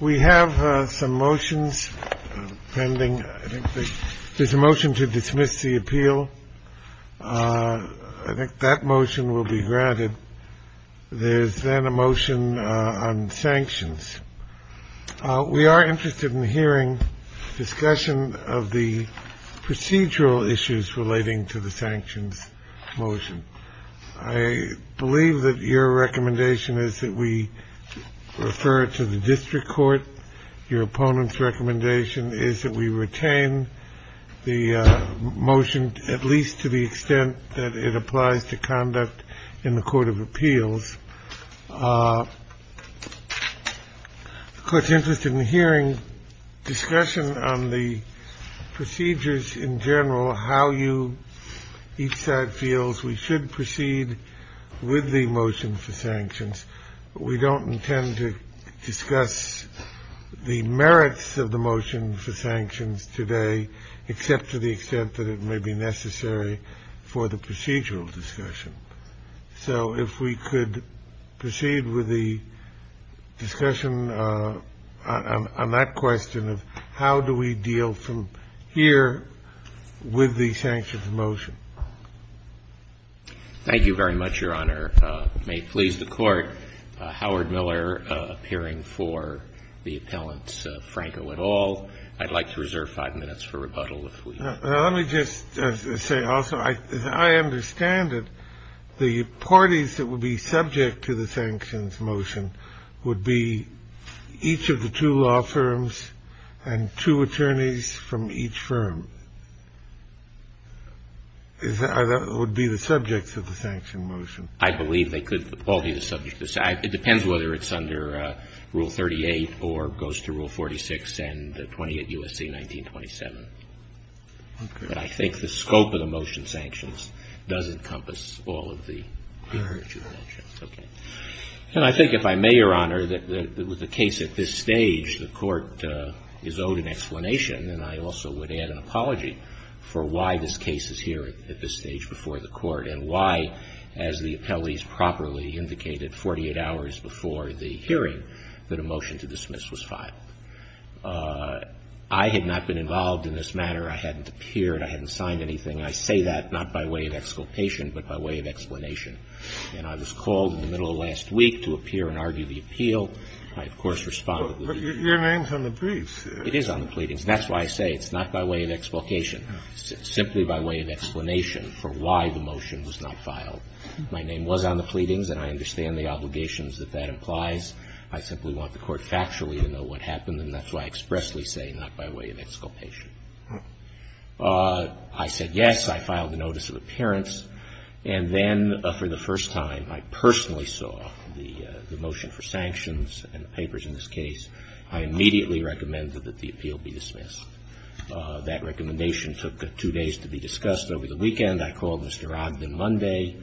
We have some motions pending. I think there's a motion to dismiss the appeal. I think that motion will be granted. There is then a motion on sanctions. We are interested in hearing discussion of the procedural issues relating to the sanctions motion. I believe that your recommendation is that we refer it to the district court. Your opponent's recommendation is that we retain the motion, at least to the extent that it applies to conduct in the court of appeals. The court's interested in hearing discussion on the procedures in general, how you each side feels we should proceed with the motion for sanctions. We don't intend to discuss the merits of the motion for sanctions today, except to the extent that it may be necessary for the procedural discussion. So if we could proceed with the discussion on that question of how do we deal from here with the sanctions motion. Thank you very much, Your Honor. May it please the Court, Howard Miller appearing for the appellants, Franco et al. I'd like to reserve five minutes for rebuttal if we can. Let me just say also, as I understand it, the parties that would be subject to the sanctions motion would be each of the two law firms and two attorneys from each firm. That would be the subjects of the sanctions motion. I believe they could all be the subjects. It depends whether it's under Rule 38 or goes to Rule 46 and 28 U.S.C. 1927. Okay. But I think the scope of the motion sanctions does encompass all of the other two motions. Okay. And I think if I may, Your Honor, that with the case at this stage, the Court is owed an explanation, and I also would add an apology for why this case is here at this stage before the Court and why, as the appellees properly indicated 48 hours before the hearing, that a motion to dismiss was filed. I had not been involved in this matter. I hadn't appeared. I hadn't signed anything. I say that not by way of exculpation, but by way of explanation. And I was called in the middle of last week to appear and argue the appeal. I, of course, responded. Your name's on the briefs. It is on the pleadings. That's why I say it's not by way of exculpation. It's simply by way of explanation for why the motion was not filed. My name was on the pleadings, and I understand the obligations that that implies. I simply want the Court factually to know what happened, and that's why I expressly say not by way of exculpation. I said yes. I filed a notice of appearance. And then for the first time, I personally saw the motion for sanctions and the papers in this case. I immediately recommended that the appeal be dismissed. That recommendation took two days to be discussed. Over the weekend, I called Mr. Ogden Monday,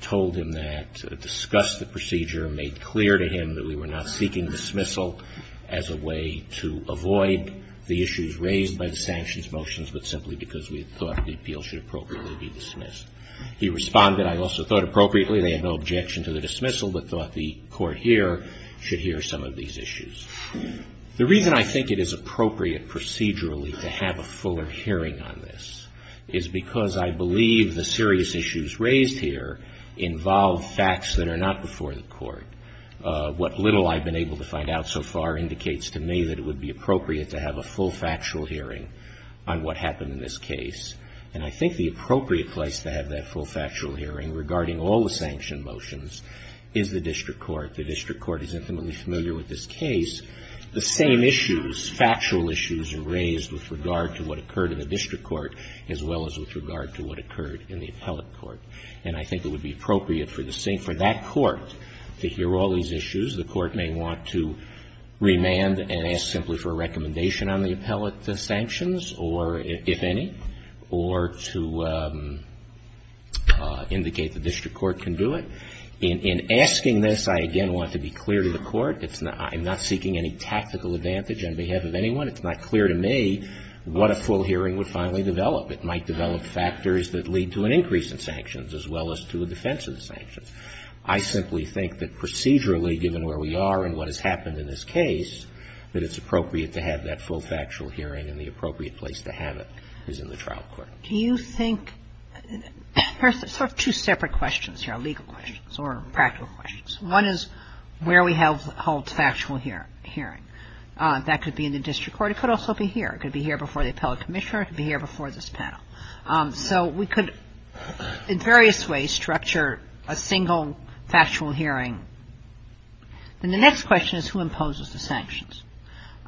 told him that, discussed the procedure, made clear to him that we were not seeking dismissal as a way to avoid the issues raised by the sanctions motions, but simply because we thought the appeal should appropriately be dismissed. He responded. I also thought appropriately. They had no objection to the dismissal, but thought the Court here should hear some of these issues. The reason I think it is appropriate procedurally to have a fuller hearing on this is because I believe the serious issues raised here involve facts that are not before the Court. What little I've been able to find out so far indicates to me that it would be appropriate to have a full factual hearing on what happened in this case. And I think the appropriate place to have that full factual hearing regarding all the sanction motions is the district court. The district court is intimately familiar with this case. The same issues, factual issues, are raised with regard to what occurred in the district court, as well as with regard to what occurred in the appellate court. And I think it would be appropriate for that court to hear all these issues. The court may want to remand and ask simply for a recommendation on the appellate sanctions, or if any. Or to indicate the district court can do it. In asking this, I again want to be clear to the court, I'm not seeking any tactical advantage on behalf of anyone. It's not clear to me what a full hearing would finally develop. It might develop factors that lead to an increase in sanctions, as well as to a defense of the sanctions. I simply think that procedurally, given where we are and what has happened in this case, that it's appropriate to have that full factual hearing and the appropriate place to have it is in the trial court. Kagan. Do you think – there are sort of two separate questions here, legal questions or practical questions. One is where we have held factual hearing. That could be in the district court. It could also be here. It could be here before the appellate commissioner. It could be here before this panel. So we could, in various ways, structure a single factual hearing. Then the next question is who imposes the sanctions.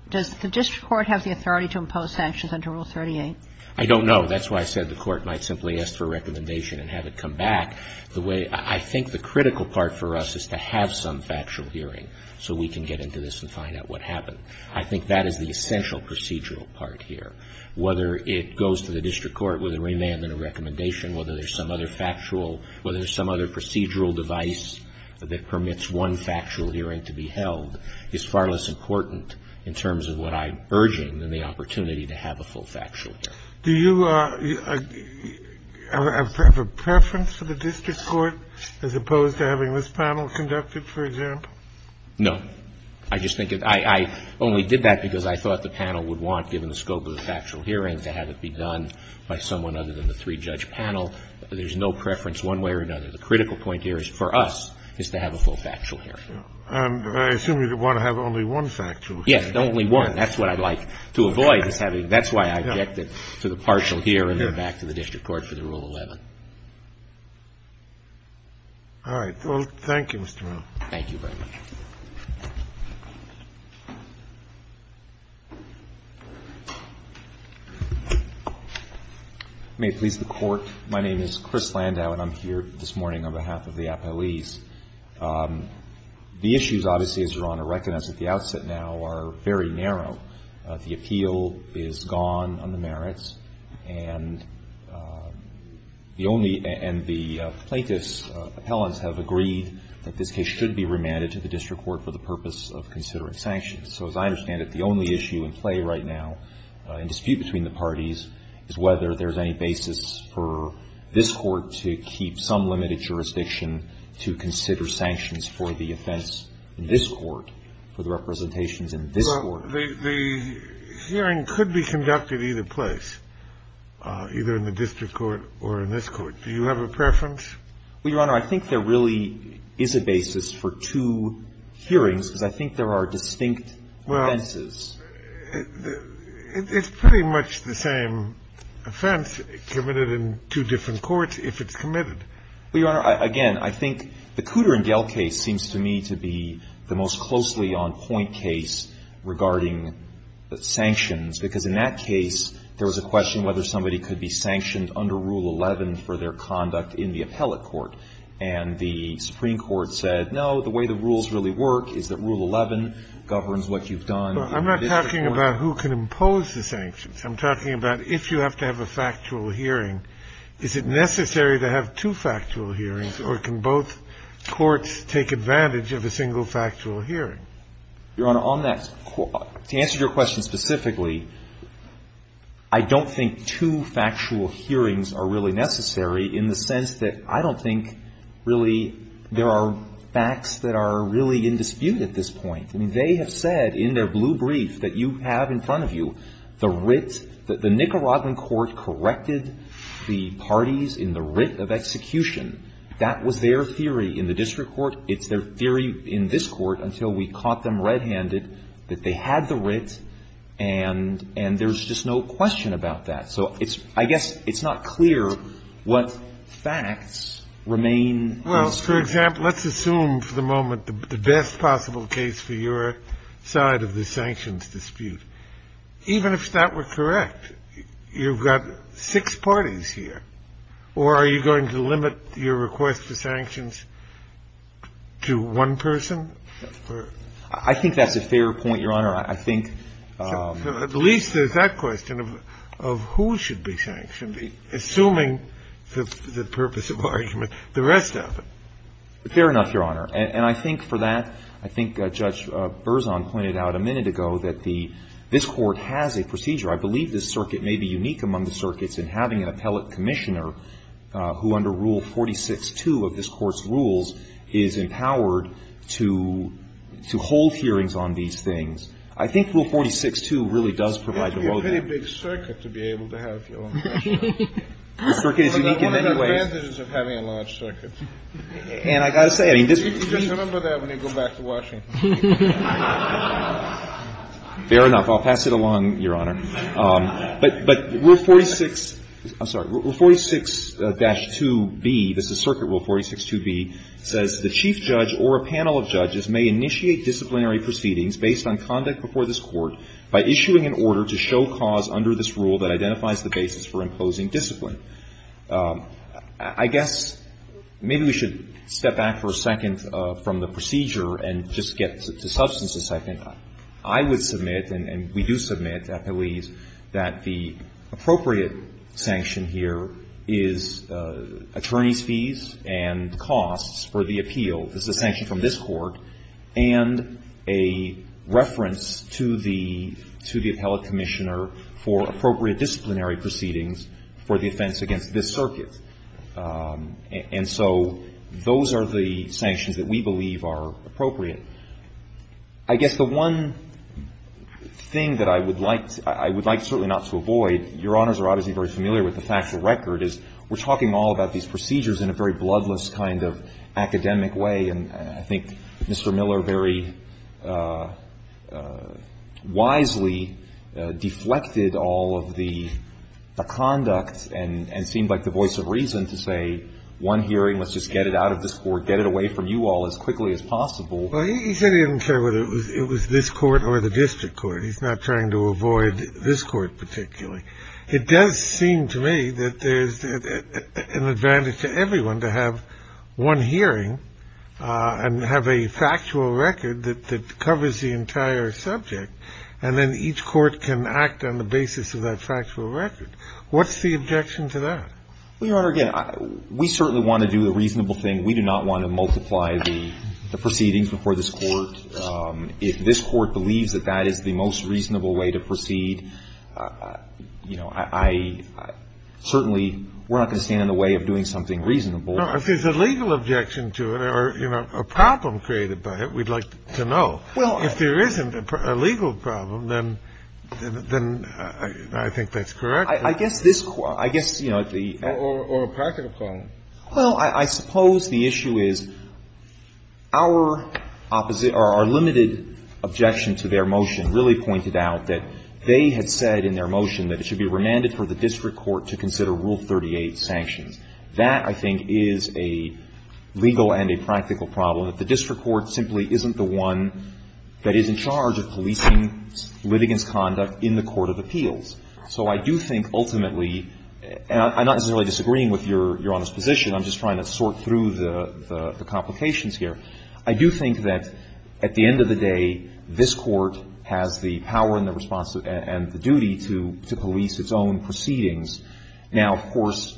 Does the district court have the authority to impose sanctions under Rule 38? I don't know. That's why I said the court might simply ask for a recommendation and have it come back. The way – I think the critical part for us is to have some factual hearing so we can get into this and find out what happened. I think that is the essential procedural part here. Whether it goes to the district court with a remand and a recommendation, whether there's some other factual, whether there's some other procedural device that permits one factual hearing to be held, is far less important in terms of what I'm urging than the opportunity to have a full factual hearing. Do you have a preference for the district court as opposed to having this panel conducted, for example? No. I just think – I only did that because I thought the panel would want, given the scope of the factual hearing, to have it be done by someone other than the three-judge panel. There's no preference one way or another. The critical point here for us is to have a full factual hearing. And I assume you want to have only one factual hearing. Yes, only one. That's what I'd like to avoid, is having – that's why I objected to the partial hearing and back to the district court for the Rule 11. All right. Well, thank you, Mr. Miller. Thank you very much. May it please the Court. My name is Chris Landau, and I'm here this morning on behalf of the appellees. The issues, obviously, as Your Honor recognized at the outset now, are very narrow. The appeal is gone on the merits. And the only – and the plaintiffs' appellants have agreed that this case should be remanded to the district court. And the only issue in play right now in dispute between the parties is whether there's any basis for this Court to keep some limited jurisdiction to consider sanctions for the offense in this Court, for the representations in this Court. Well, the hearing could be conducted either place, either in the district court or in this court. Do you have a preference? Well, Your Honor, I think there really is a basis for two hearings, because I think there are distinct offenses. Well, it's pretty much the same offense committed in two different courts if it's committed. Well, Your Honor, again, I think the Cooter and Gale case seems to me to be the most closely on point case regarding sanctions, because in that case, there was a question whether somebody could be sanctioned under Rule 11 for their conduct in the appellate court, and the Supreme Court said, no, the way the rules really work is that Rule 11 governs what you've done. I'm not talking about who can impose the sanctions. I'm talking about if you have to have a factual hearing, is it necessary to have two factual hearings, or can both courts take advantage of a single factual hearing? Your Honor, on that, to answer your question specifically, I don't think two factual hearings are really necessary in the sense that I don't think really there are facts that are really in dispute at this point. I mean, they have said in their blue brief that you have in front of you the writ that the Nicaraguan court corrected the parties in the writ of execution. That was their theory in the district court. It's their theory in this court until we caught them red-handed that they had the writ, and there's just no question about that. So I guess it's not clear what facts remain in dispute. Scalia. Well, for example, let's assume for the moment the best possible case for your side of the sanctions dispute. Even if that were correct, you've got six parties here, or are you going to limit your request for sanctions to one person? I think that's a fair point, Your Honor. I think — At least there's that question of who should be sanctioned, assuming the purpose of argument, the rest of it. Fair enough, Your Honor. And I think for that, I think Judge Berzon pointed out a minute ago that the — this Court has a procedure. I believe this circuit may be unique among the circuits in having an appellate commissioner who, under Rule 46-2 of this Court's rules, is empowered to hold hearings on these things. I think Rule 46-2 really does provide the lowdown. It's a pretty big circuit to be able to have your own commissioner. The circuit is unique in many ways. One of the advantages of having a large circuit. And I've got to say, I mean, this — You just remember that when you go back to Washington. Fair enough. I'll pass it along, Your Honor. But Rule 46 — I'm sorry. Rule 46-2b, this is Circuit Rule 46-2b, says, The chief judge or a panel of judges may initiate disciplinary proceedings based on conduct before this Court by issuing an order to show cause under this rule that identifies the basis for imposing discipline. I guess maybe we should step back for a second from the procedure and just get to substances a second. I would submit, and we do submit at police, that the appropriate sanction here is attorney's fees and costs for the appeal. This is a sanction from this Court and a reference to the appellate commissioner for appropriate disciplinary proceedings for the offense against this circuit. And so those are the sanctions that we believe are appropriate. I guess the one thing that I would like — I would like certainly not to avoid, Your Honors are obviously very familiar with the factual record, is we're talking all about these procedures in a very bloodless kind of academic way, and I think Mr. Miller very wisely deflected all of the conduct and seemed like the voice of reason to say, one hearing, let's just get it out of this Court, get it away from you all as quickly as possible. Well, he said he didn't care whether it was this Court or the district court. He's not trying to avoid this Court particularly. It does seem to me that there's an advantage to everyone to have one hearing and have a factual record that covers the entire subject, and then each court can act on the basis of that factual record. What's the objection to that? Well, Your Honor, again, we certainly want to do the reasonable thing. We do not want to multiply the proceedings before this Court. If this Court believes that that is the most reasonable way to proceed, you know, I certainly — we're not going to stand in the way of doing something reasonable. No, if there's a legal objection to it or, you know, a problem created by it, we'd like to know. Well, I — If there isn't a legal problem, then I think that's correct. I guess this — I guess, you know, the — Or a practical problem. Well, I suppose the issue is our opposite — or our limited objection to their motion really pointed out that they had said in their motion that it should be remanded for the district court to consider Rule 38 sanctions. That, I think, is a legal and a practical problem, that the district court simply isn't the one that is in charge of policing litigants' conduct in the court of appeals. So I do think ultimately — and I'm not necessarily disagreeing with Your Honor's position. I'm just trying to sort through the complications here. I do think that at the end of the day, this Court has the power and the responsibility and the duty to police its own proceedings. Now, of course,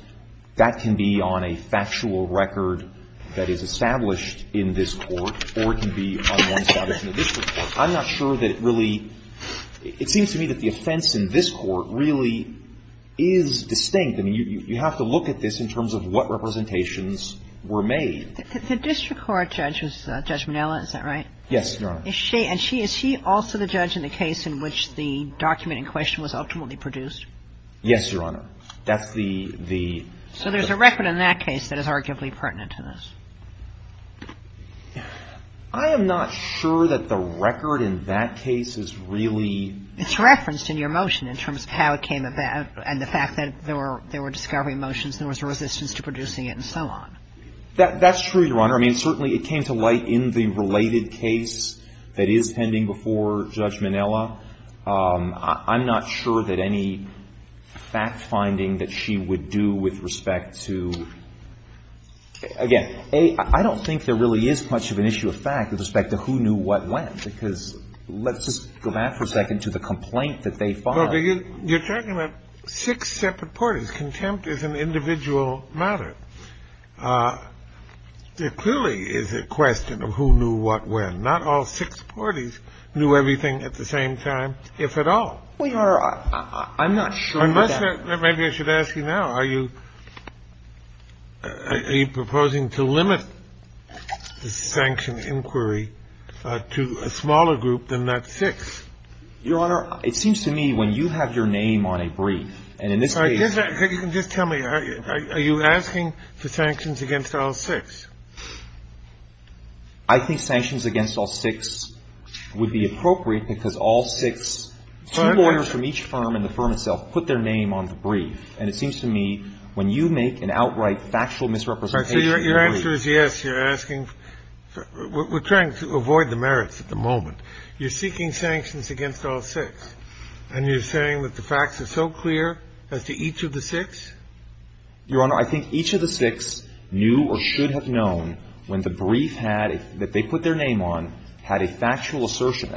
that can be on a factual record that is established in this Court or it can be on one established in the district court. I'm not sure that it really — it seems to me that the offense in this Court really is distinct. I mean, you have to look at this in terms of what representations were made. The district court judge was Judge Minella. Is that right? Yes, Your Honor. Is she — and is she also the judge in the case in which the document in question was ultimately produced? Yes, Your Honor. That's the — So there's a record in that case that is arguably pertinent to this. I am not sure that the record in that case is really — It's referenced in your motion in terms of how it came about and the fact that there were — there were discovery motions and there was a resistance to producing it and so on. That's true, Your Honor. I mean, certainly it came to light in the related case that is pending before Judge Minella. I'm not sure that any fact-finding that she would do with respect to — again, I don't think there really is much of an issue of fact with respect to who knew what when, because let's just go back for a second to the complaint that they filed. Well, you're talking about six separate parties. Contempt is an individual matter. There clearly is a question of who knew what when. Not all six parties knew everything at the same time, if at all. Well, Your Honor, I'm not sure that — Unless — maybe I should ask you now. Are you proposing to limit the sanction inquiry to a smaller group than that six? Your Honor, it seems to me when you have your name on a brief, and in this case — Just tell me, are you asking for sanctions against all six? I think sanctions against all six would be appropriate because all six — Two lawyers from each firm and the firm itself put their name on the brief, and it seems to me when you make an outright factual misrepresentation — Your answer is yes. You're asking — we're trying to avoid the merits at the moment. You're seeking sanctions against all six, and you're saying that the facts are so clear as to each of the six? Your Honor, I think each of the six knew or should have known when the brief had — that they put their name on had a factual assertion.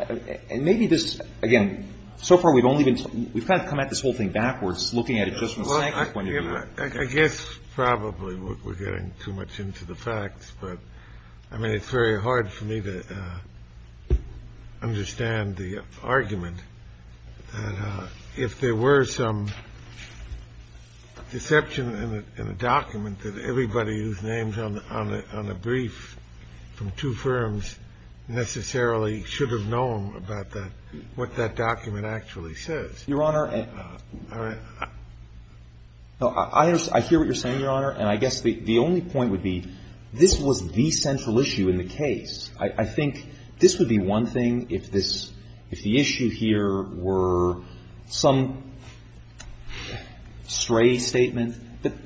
And maybe this — again, so far, we've only been — we've kind of come at this whole thing backwards, looking at it just from a sanctions point of view. I guess probably we're getting too much into the facts, but, I mean, it's very hard for me to understand the argument. And if there were some deception in a document that everybody whose name is on the brief from two firms necessarily should have known about that, what that document actually says. Your Honor, I hear what you're saying, Your Honor, and I guess the only point would be this was the central issue in the case. I think this would be one thing if this — if the issue here were some stray statement.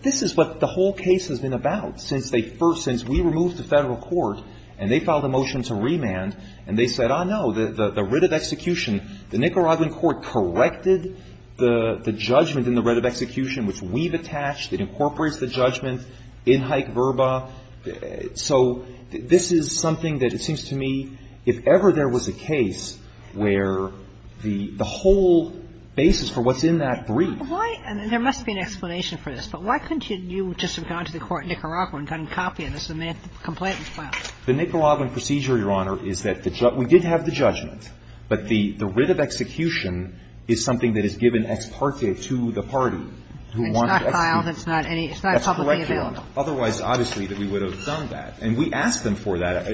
This is what the whole case has been about since they first — since we removed the federal court and they filed a motion to remand, and they said, oh, no, the writ of execution, the Nicaraguan court corrected the judgment in the writ of execution, which we've attached. It incorporates the judgment in Hike-Verba. So this is something that, it seems to me, if ever there was a case where the whole basis for what's in that brief — Why — and there must be an explanation for this, but why couldn't you just have gone to the court in Nicaragua and gotten a copy of this and made a complaint and filed it? The Nicaraguan procedure, Your Honor, is that we did have the judgment, but the writ of execution is something that is given ex parte to the party who wanted to execute. It's not filed. It's not any — it's not publicly available. That's correct, Your Honor. Otherwise, obviously, that we would have done that. And we asked them for that.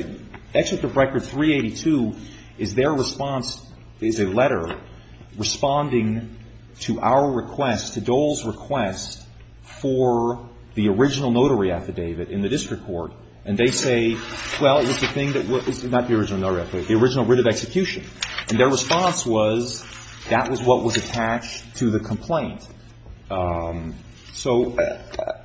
Executive Record 382 is their response is a letter responding to our request, to Dole's request, for the original notary affidavit in the district court. And they say, well, it was the thing that was — not the original notary affidavit, the original writ of execution. And their response was that was what was attached to the complaint. So,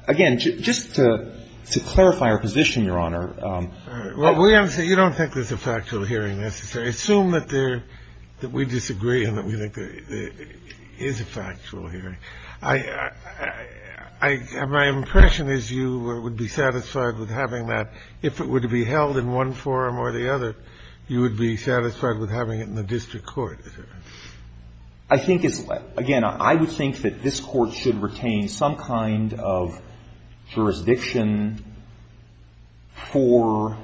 again, just to clarify our position, Your Honor — Well, we have to say you don't think there's a factual hearing necessary. Assume that there — that we disagree and that we think there is a factual hearing. I — my impression is you would be satisfied with having that. If it were to be held in one forum or the other, you would be satisfied with having it in the district court. I think it's — again, I would think that this Court should retain some kind of jurisdiction for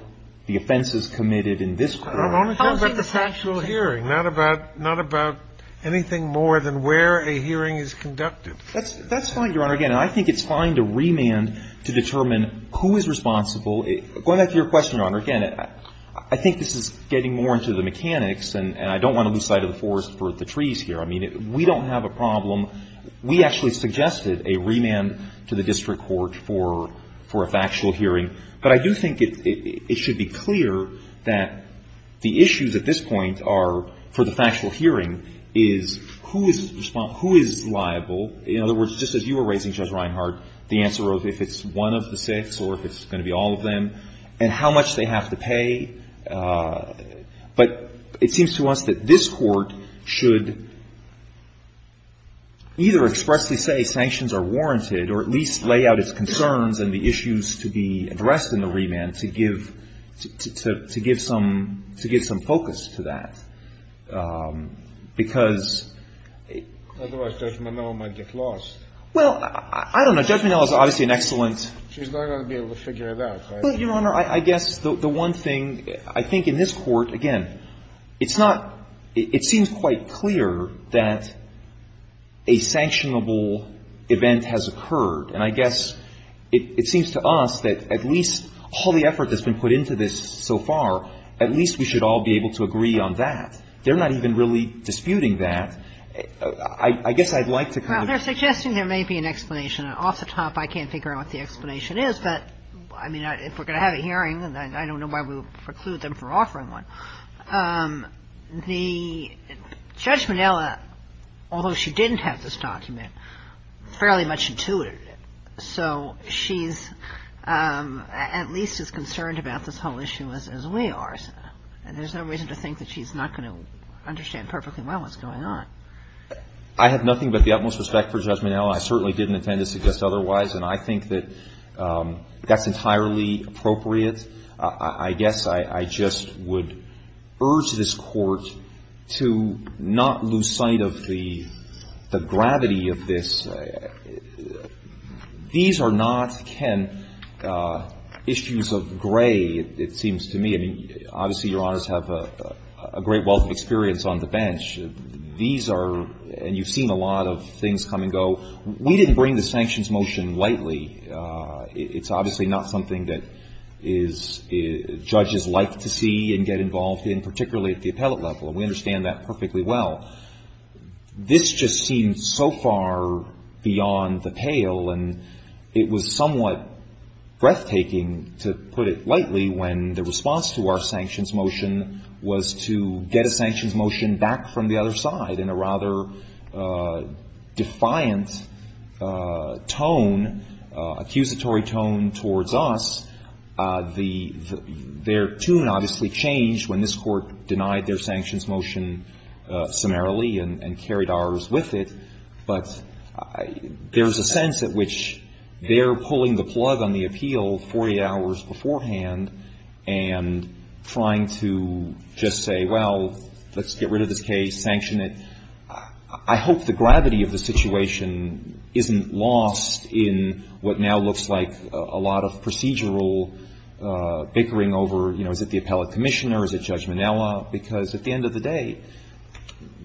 the offenses committed in this court. I'm only talking about the factual hearing, not about — not about anything more than where a hearing is conducted. That's fine, Your Honor. Again, I think it's fine to remand to determine who is responsible. Going back to your question, Your Honor, again, I think this is getting more into the mechanics, and I don't want to lose sight of the forest for the trees here. I mean, we don't have a problem. We actually suggested a remand to the district court for a factual hearing. But I do think it should be clear that the issues at this point are, for the factual hearing, is who is liable. In other words, just as you were raising, Judge Reinhart, the answer of if it's one of the six or if it's going to be all of them, and how much they have to pay. But it seems to us that this Court should either expressly say sanctions are warranted or at least lay out its concerns and the issues to be addressed in the remand to give — to give some — to give some focus to that. Because — Otherwise Judge Monell might get lost. Well, I don't know. Judge Monell is obviously an excellent — She's not going to be able to figure it out, right? Well, Your Honor, I guess the one thing, I think in this Court, again, it's not — it seems quite clear that a sanctionable event has occurred. And I guess it seems to us that at least all the effort that's been put into this so far, at least we should all be able to agree on that. They're not even really disputing that. I guess I'd like to kind of — Well, they're suggesting there may be an explanation. And off the top, I can't figure out what the explanation is. But, I mean, if we're going to have a hearing, I don't know why we would preclude them from offering one. The — Judge Monell, although she didn't have this document, fairly much intuited it. So she's at least as concerned about this whole issue as we are. And there's no reason to think that she's not going to understand perfectly well what's going on. I have nothing but the utmost respect for Judge Monell. I certainly didn't intend to suggest otherwise. And I think that that's entirely appropriate. I guess I just would urge this Court to not lose sight of the gravity of this. These are not, Ken, issues of gray, it seems to me. I mean, obviously, Your Honors have a great wealth of experience on the bench. These are — and you've seen a lot of things come and go. We didn't bring the sanctions motion lightly. It's obviously not something that is — judges like to see and get involved in, particularly at the appellate level. And we understand that perfectly well. This just seems so far beyond the pale. And it was somewhat breathtaking, to put it lightly, when the response to our sanctions motion was to get a sanctions motion back from the other side in a rather defiant tone, accusatory tone towards us. Their tune obviously changed when this Court denied their sanctions motion summarily and carried ours with it. But there's a sense at which they're pulling the plug on the appeal 40 hours beforehand and trying to just say, well, let's get rid of this case, sanction it. I hope the gravity of the situation isn't lost in what now looks like a lot of procedural bickering over, you know, is it the appellate commissioner, is it Judge Minella? Because at the end of the day,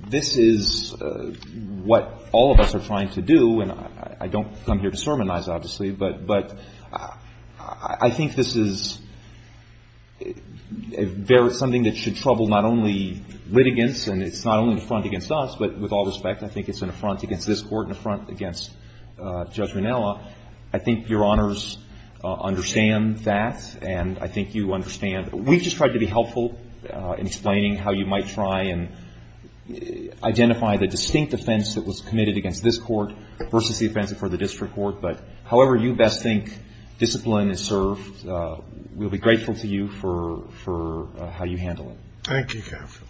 this is what all of us are trying to do. And I don't come here to sermonize, obviously. But I think this is something that should trouble not only litigants and it's not only the front against us, but with all respect, I think it's an affront against this Court and an affront against Judge Minella. I think Your Honors understand that. And I think you understand. We've just tried to be helpful in explaining how you might try and identify the distinct offense that was committed against this Court versus the offense before the district court. But however you best think discipline is served, we'll be grateful to you for how you handle it. Thank you, counsel.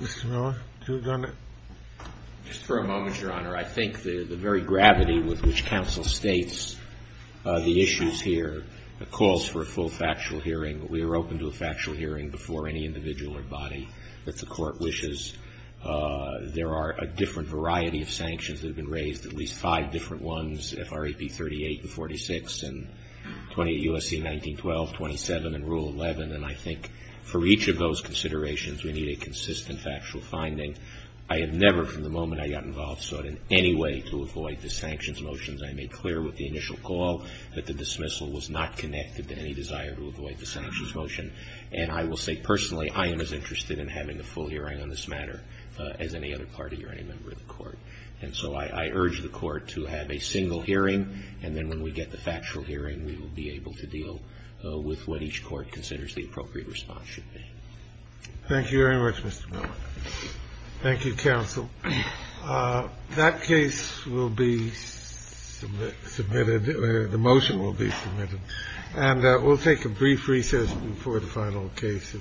Mr. Miller, do you have a comment? Just for a moment, Your Honor. I think the very gravity with which counsel states the issues here calls for a full factual hearing. We are open to a factual hearing before any individual or body that the Court wishes. There are a different variety of sanctions that have been raised, at least five different ones, FRAP 38 and 46, and 28 U.S.C. 1912, 27, and Rule 11. And I think for each of those considerations, we need a consistent factual finding. I have never from the moment I got involved sought in any way to avoid the sanctions motions. I made clear with the initial call that the dismissal was not connected to any desire to avoid the sanctions motion. And I will say personally, I am as interested in having a full hearing on this matter as any other party or any member of the Court. And so I urge the Court to have a single hearing, and then when we get the factual hearing, we will be able to deal with what each Court considers the appropriate response should be. Thank you very much, Mr. Miller. Thank you, counsel. That case will be submitted or the motion will be submitted. And we'll take a brief recess before the final case of the morning.